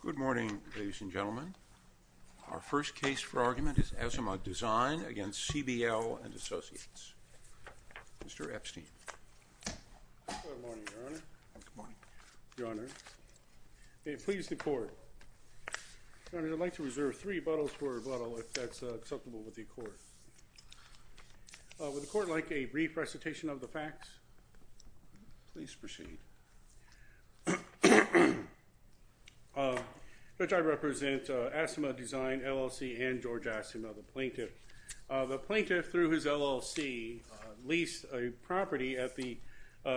Good morning ladies and gentlemen. Our first case for argument is Asimah Design v. CBL & Associates. Mr. Epstein. Good morning, Your Honor. Good morning. Your Honor, may it please the Court. Your Honor, I'd like to reserve three buttles for rebuttal if that's acceptable with the Court. Would the Court like a brief recitation of the facts? Please proceed. Judge, I represent Asimah Design LLC and George Asimah, the plaintiff. The plaintiff, through his LLC, leased a property at the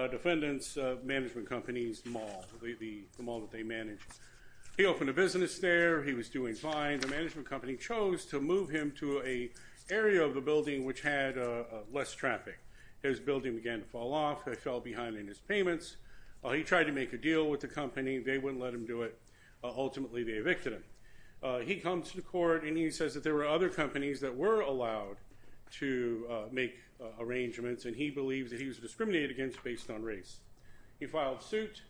defendant's management company's mall, the mall that they manage. He opened a business there. He was doing fine. The management company chose to move him to an area of the building which had less traffic. His building began to fall off. They fell behind in his payments. He tried to make a deal with the company. They wouldn't let him do it. Ultimately, they evicted him. He comes to the Court and he says that there were other companies that were allowed to make arrangements, and he believes that he was discriminated against based on race. He filed suit.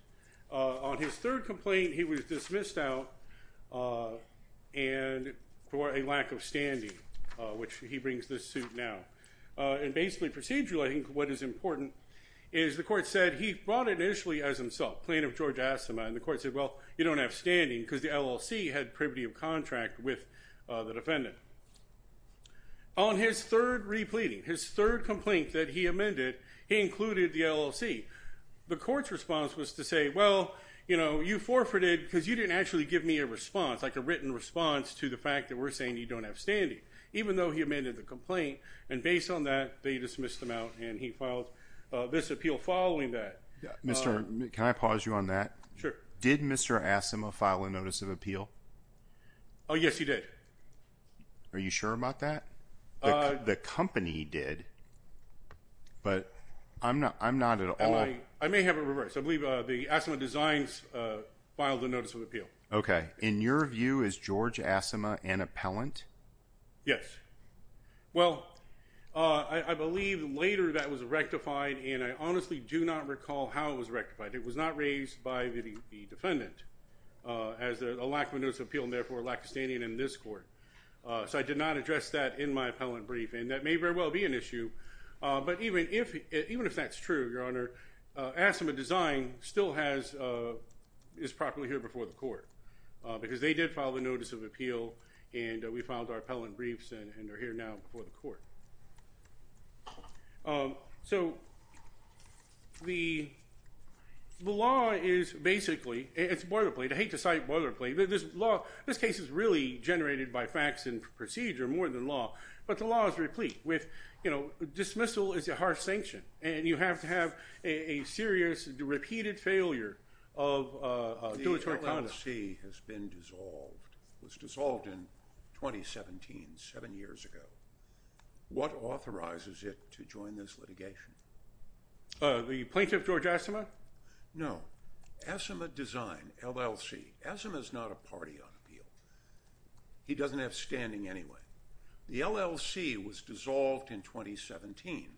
On his third complaint, he was dismissed out for a lack of standing, which he brings this suit now. And basically, procedurally, I think what is important is the Court said he brought initially as himself, plaintiff George Asimah, and the Court said, well, you don't have standing because the LLC had privity of contract with the defendant. On his third repleting, his third complaint that he amended, he included the LLC. The Court's response was to say, well, you know, you forfeited because you didn't actually give me a response, like a written response to the fact that we're saying you don't have standing, even though he amended the complaint. And based on that, they dismissed him out and he filed this appeal following that. Can I pause you on that? Sure. Did Mr. Asimah file a notice of appeal? Oh, yes, he did. Are you sure about that? The company did, but I'm not at all. I may have it reversed. I believe the Asimah Designs filed a notice of appeal. Okay. In your view, is George Asimah an appellant? Yes. Well, I believe later that was rectified, and I honestly do not recall how it was rectified. It was not raised by the defendant as a lack of a notice of appeal, and therefore a lack of standing in this Court. So I did not address that in my appellant briefing. That may very well be an issue, but even if that's true, Your Honor, Asimah Designs still is properly here before the Court because they did file the notice of appeal, and we filed our appellant briefs, and they're here now before the Court. So the law is basically, it's boilerplate. I hate to cite boilerplate, but this case is really generated by facts and procedure more than law, but the law is replete with, you know, dismissal is a harsh sanction, and you have to have a serious, repeated failure of duatoric conduct. The LLC has been dissolved, was dissolved in 2017, seven years ago. What authorizes it to join this litigation? The plaintiff, George Asimah? No. Asimah Design, LLC. Asimah's not a party on appeal. He doesn't have standing anyway. The LLC was dissolved in 2017,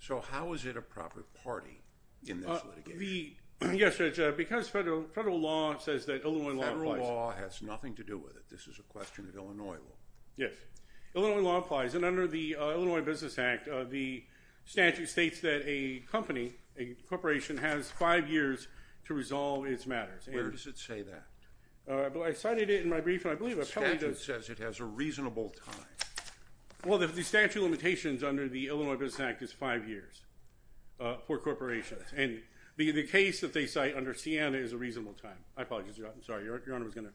so how is it a proper party in this litigation? Yes, Judge, because federal law says that Illinois law applies. Federal law has nothing to do with it. This is a question of Illinois law. Yes. Illinois law applies, and under the Illinois Business Act, the statute states that a company, a corporation, has five years to resolve its matters. Where does it say that? I cited it in my brief, and I believe appellate does. The statute says it has a reasonable time. Well, the statute of limitations under the Illinois Business Act is five years for corporations, and the case that they cite under Siena is a reasonable time. I apologize. I'm sorry. Your Honor was going to.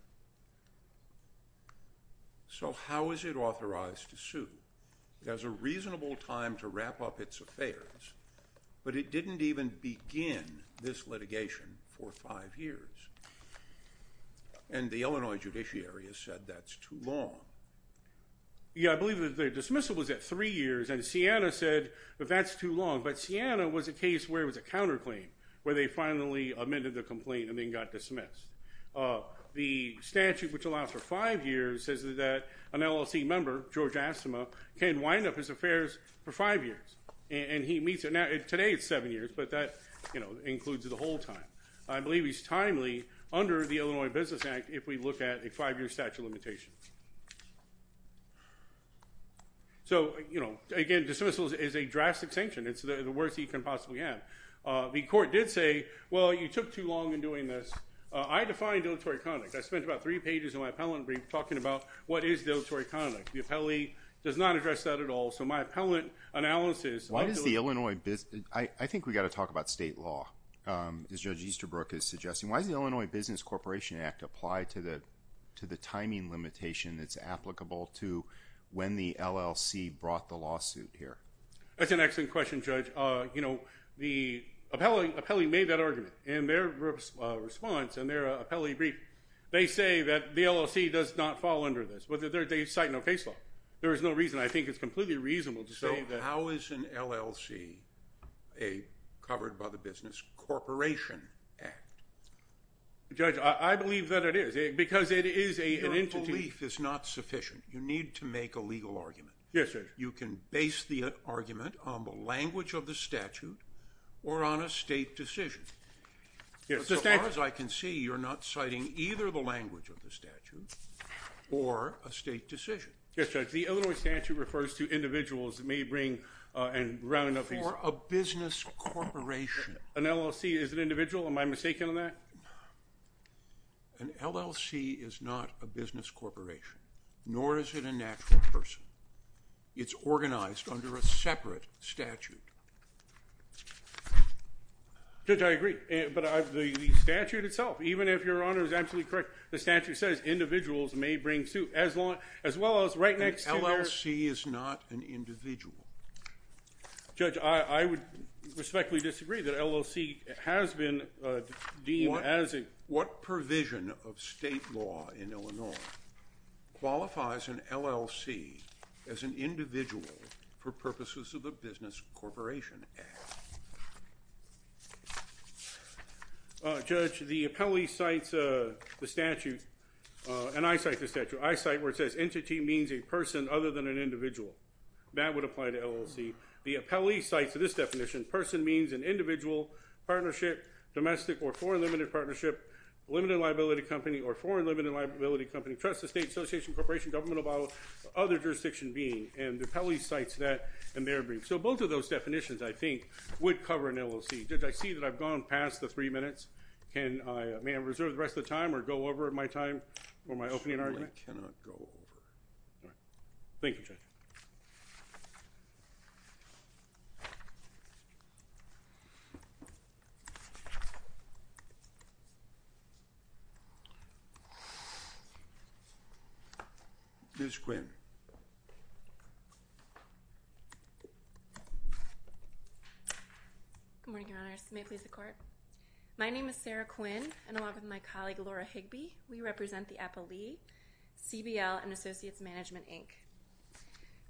So how is it authorized to sue? It has a reasonable time to wrap up its affairs, but it didn't even begin this litigation for five years, and the Illinois judiciary has said that's too long. Yeah, I believe the dismissal was at three years, and Siena said that that's too long, but Siena was a case where it was a counterclaim, where they finally amended the complaint and then got dismissed. The statute, which allows for five years, says that an LLC member, George Astema, can wind up his affairs for five years, and he meets it. Now, today it's seven years, but that includes the whole time. I believe he's timely under the Illinois Business Act if we look at a five-year statute of limitations. So, you know, again, dismissal is a drastic sanction. It's the worst you can possibly have. The court did say, well, you took too long in doing this. I define deleterious conduct. I spent about three pages in my appellant brief talking about what is deleterious conduct. The appellee does not address that at all. So my appellant analysis. I think we've got to talk about state law, as Judge Easterbrook is suggesting. Why does the Illinois Business Corporation Act apply to the timing limitation that's applicable to when the LLC brought the lawsuit here? That's an excellent question, Judge. You know, the appellee made that argument in their response in their appellee brief. They say that the LLC does not fall under this. They cite no case law. There is no reason. I think it's completely reasonable to say that. So how is an LLC covered by the Business Corporation Act? Judge, I believe that it is because it is an entity. Your belief is not sufficient. You need to make a legal argument. Yes, Judge. You can base the argument on the language of the statute or on a state decision. Yes, Judge. As far as I can see, you're not citing either the language of the statute or a state decision. Yes, Judge. The Illinois statute refers to individuals that may bring and round up these. Or a business corporation. An LLC is an individual? Am I mistaken on that? An LLC is not a business corporation, nor is it a natural person. It's organized under a separate statute. Judge, I agree. But the statute itself, even if Your Honor is absolutely correct, the statute says individuals may bring suit as well as right next to their... An LLC is not an individual. Judge, I would respectfully disagree that an LLC has been deemed as a... What provision of state law in Illinois qualifies an LLC as an individual for purposes of the Business Corporation Act? Judge, the appellee cites the statute, and I cite the statute. I cite where it says entity means a person other than an individual. That would apply to LLC. The appellee cites this definition. Person means an individual, partnership, domestic or foreign limited partnership, limited liability company or foreign limited liability company, trusted state, association, corporation, governmental, other jurisdiction being. And the appellee cites that in their brief. So both of those definitions, I think, would cover an LLC. Judge, I see that I've gone past the three minutes. May I reserve the rest of the time or go over my time for my opening argument? Certainly cannot go over. Thank you, Judge. Thank you. Ms. Quinn. Good morning, Your Honors. May it please the Court. My name is Sarah Quinn, and along with my colleague, Laura Higbee, we represent the appellee, CBL, and Associates Management, Inc.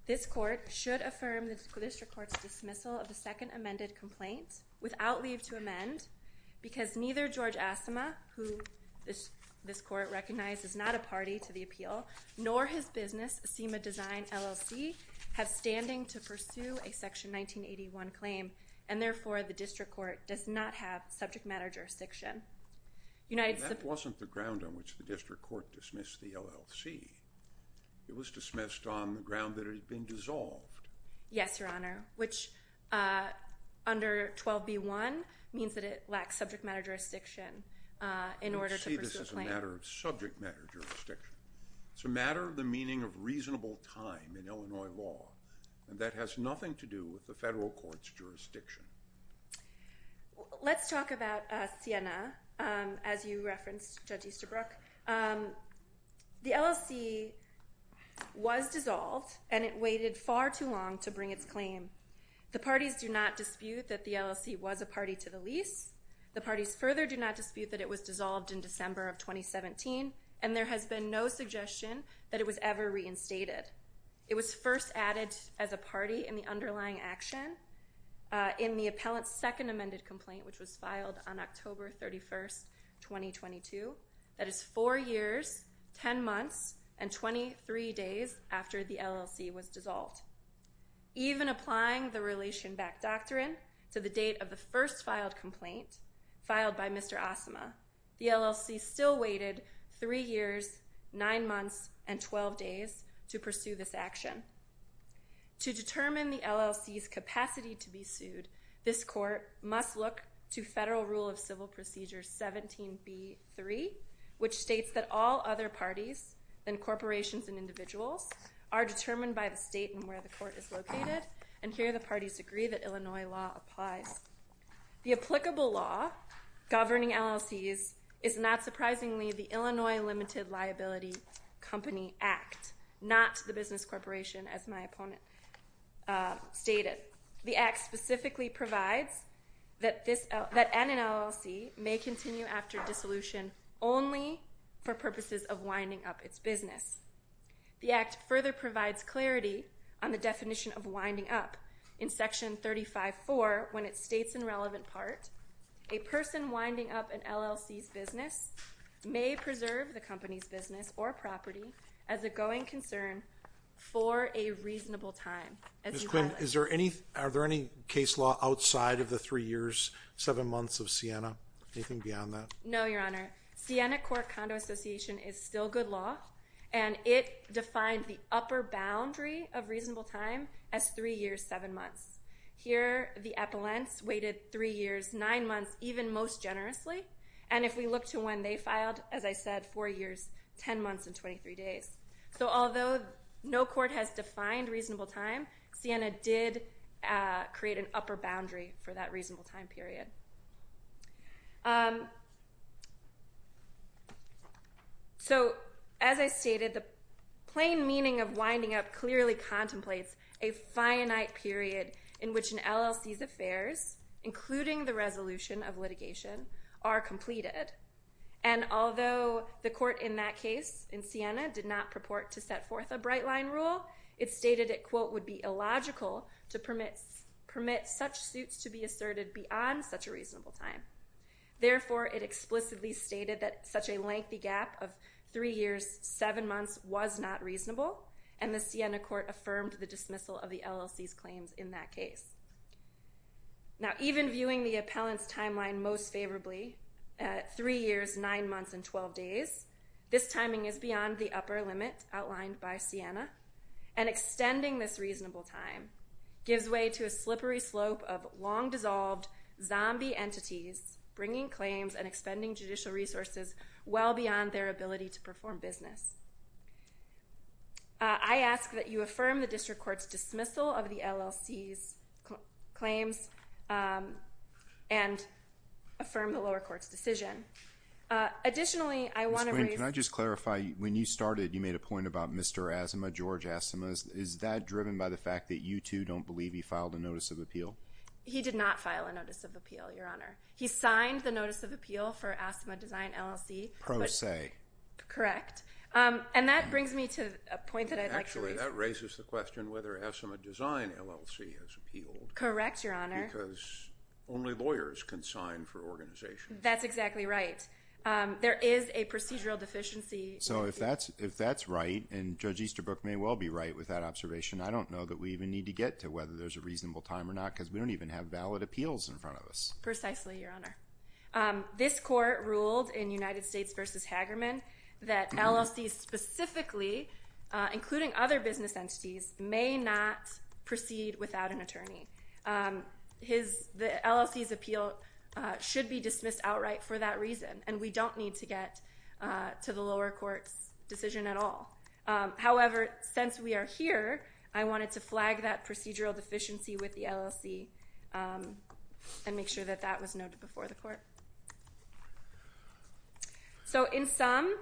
This Court should affirm the District Court's dismissal of the second amended complaint without leave to amend because neither George Asima, who this Court recognizes not a party to the appeal, nor his business, Asima Design, LLC, have standing to pursue a Section 1981 claim, and therefore the District Court does not have subject matter jurisdiction. It was dismissed on the ground that it had been dissolved. Yes, Your Honor, which under 12b-1 means that it lacks subject matter jurisdiction in order to pursue a claim. You see, this is a matter of subject matter jurisdiction. It's a matter of the meaning of reasonable time in Illinois law, and that has nothing to do with the federal court's jurisdiction. Let's talk about Siena, as you referenced, Judge Easterbrook. The LLC was dissolved, and it waited far too long to bring its claim. The parties do not dispute that the LLC was a party to the lease. The parties further do not dispute that it was dissolved in December of 2017, and there has been no suggestion that it was ever reinstated. It was first added as a party in the underlying action in the appellant's second amended complaint, which was filed on October 31st, 2022. That is four years, 10 months, and 23 days after the LLC was dissolved. Even applying the Relation Back Doctrine to the date of the first filed complaint, filed by Mr. Asimov, the LLC still waited three years, nine months, and 12 days to pursue this action. must look to Federal Rule of Civil Procedure 17b-3, which states that all other parties and corporations and individuals are determined by the state and where the court is located, and here the parties agree that Illinois law applies. The applicable law governing LLCs is, not surprisingly, the Illinois Limited Liability Company Act, not the business corporation, as my opponent stated. The act specifically provides that an LLC may continue after dissolution only for purposes of winding up its business. The act further provides clarity on the definition of winding up. In Section 35-4, when it states in relevant part, a person winding up an LLC's business may preserve the company's business or property as a going concern for a reasonable time. Ms. Quinn, are there any case law outside of the three years, seven months of Siena? Anything beyond that? No, Your Honor. Siena Court Condo Association is still good law, and it defined the upper boundary of reasonable time as three years, seven months. Here, the appellants waited three years, nine months, even most generously, and if we look to when they filed, as I said, four years, 10 months, and 23 days. So although no court has defined reasonable time, Siena did create an upper boundary for that reasonable time period. So as I stated, the plain meaning of winding up clearly contemplates a finite period in which an LLC's affairs, including the resolution of litigation, are completed. And although the court in that case, in Siena, did not purport to set forth a bright line rule, it stated it, quote, would be illogical to permit such suits to be asserted beyond such a reasonable time. Therefore, it explicitly stated that such a lengthy gap of three years, seven months was not reasonable, and the Siena Court affirmed the dismissal of the LLC's claims in that case. Now, even viewing the appellant's timeline most favorably, three years, nine months, and 12 days, this timing is beyond the upper limit outlined by Siena, and extending this reasonable time gives way to a slippery slope of long-dissolved zombie entities bringing claims and expending judicial resources well beyond their ability to perform business. I ask that you affirm the district court's dismissal of the LLC's claims and affirm the lower court's decision. Additionally, I want to raise... Ms. Quinn, can I just clarify, when you started, you made a point about Mr. Asima, George Asima. Is that driven by the fact that you, too, don't believe he filed a notice of appeal? He did not file a notice of appeal, Your Honor. He signed the notice of appeal for Asima Design LLC. Pro se. Correct. And that brings me to a point that I'd like to raise. Actually, that raises the question whether Asima Design LLC has appealed. Correct, Your Honor. Because only lawyers can sign for organizations. That's exactly right. There is a procedural deficiency. So if that's right, and Judge Easterbrook may well be right with that observation, I don't know that we even need to get to whether there's a reasonable time or not because we don't even have valid appeals in front of us. Precisely, Your Honor. This court ruled in United States v. Hagerman that LLCs specifically, including other business entities, may not proceed without an attorney. The LLC's appeal should be dismissed outright for that reason, and we don't need to get to the lower court's decision at all. However, since we are here, I wanted to flag that procedural deficiency with the LLC and make sure that that was noted before the court. So in sum,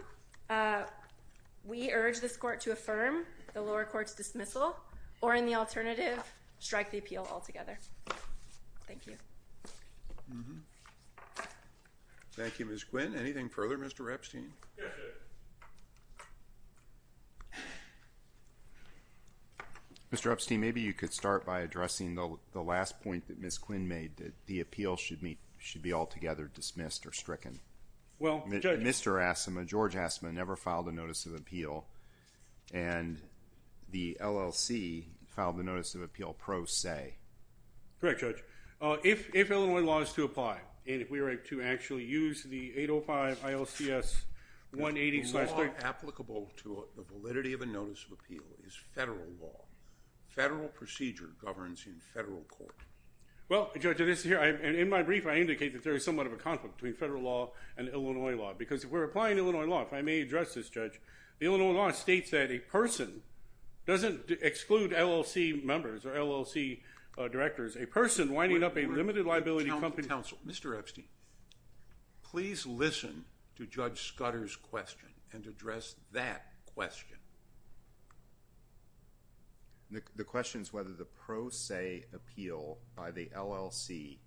we urge this court to affirm the lower court's dismissal or, in the alternative, strike the appeal altogether. Thank you. Thank you, Ms. Quinn. Anything further, Mr. Epstein? Yes, sir. Mr. Epstein, maybe you could start by addressing the last point that Ms. Quinn made, that the appeal should be altogether dismissed or stricken. Well, Judge. Mr. Asimow, George Asimow, never filed a notice of appeal, and the LLC filed the notice of appeal pro se. Correct, Judge. If Illinois law is to apply, and if we were to actually use the 805 ILCS 180- The law applicable to the validity of a notice of appeal is federal law. Federal procedure governs in federal court. Well, Judge, in my brief I indicate that there is somewhat of a conflict between federal law and Illinois law, because if we're applying Illinois law, if I may address this, Judge, the Illinois law states that a person doesn't exclude LLC members or LLC directors. A person winding up a limited liability company- Mr. Epstein, please listen to Judge Scudder's question and address that question. The question is whether the pro se appeal by the LLC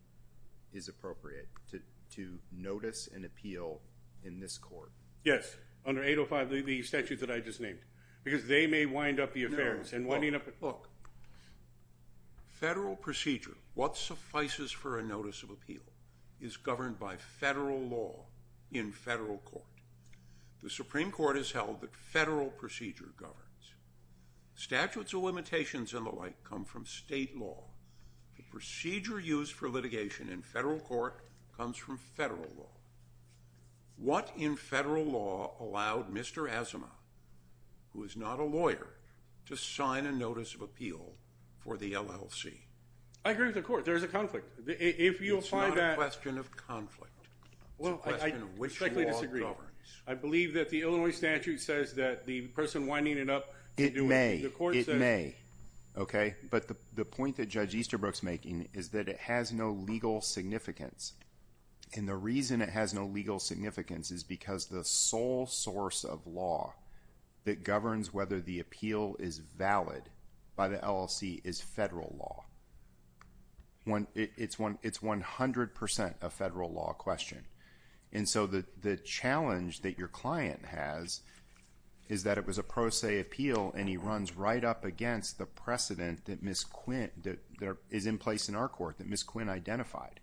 is appropriate to notice an appeal in this court. Yes, under 805, the statute that I just named, because they may wind up the affairs. Look, federal procedure, what suffices for a notice of appeal, is governed by federal law in federal court. The Supreme Court has held that federal procedure governs. Statutes of limitations and the like come from state law. The procedure used for litigation in federal court comes from federal law. What in federal law allowed Mr. Asimov, who is not a lawyer, to sign a notice of appeal for the LLC? I agree with the court. There is a conflict. It's not a question of conflict. It's a question of which law governs. I believe that the Illinois statute says that the person winding it up- It may. It may. But the point that Judge Easterbrook's making is that it has no legal significance. And the reason it has no legal significance is because the sole source of law that governs whether the appeal is valid by the LLC is federal law. It's 100% a federal law question. And so the challenge that your client has is that it was a pro se appeal and he runs right up against the precedent that is in place in our court that Ms. Quinn identified.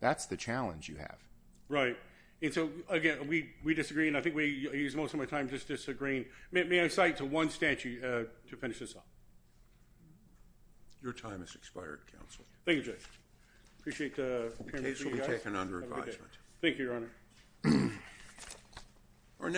That's the challenge you have. Right. And so, again, we disagree. And I think we use most of my time just disagreeing. May I cite to one statute to finish this up? Your time has expired, counsel. Thank you, Judge. I appreciate the- The case will be taken under advisement. Thank you, Your Honor.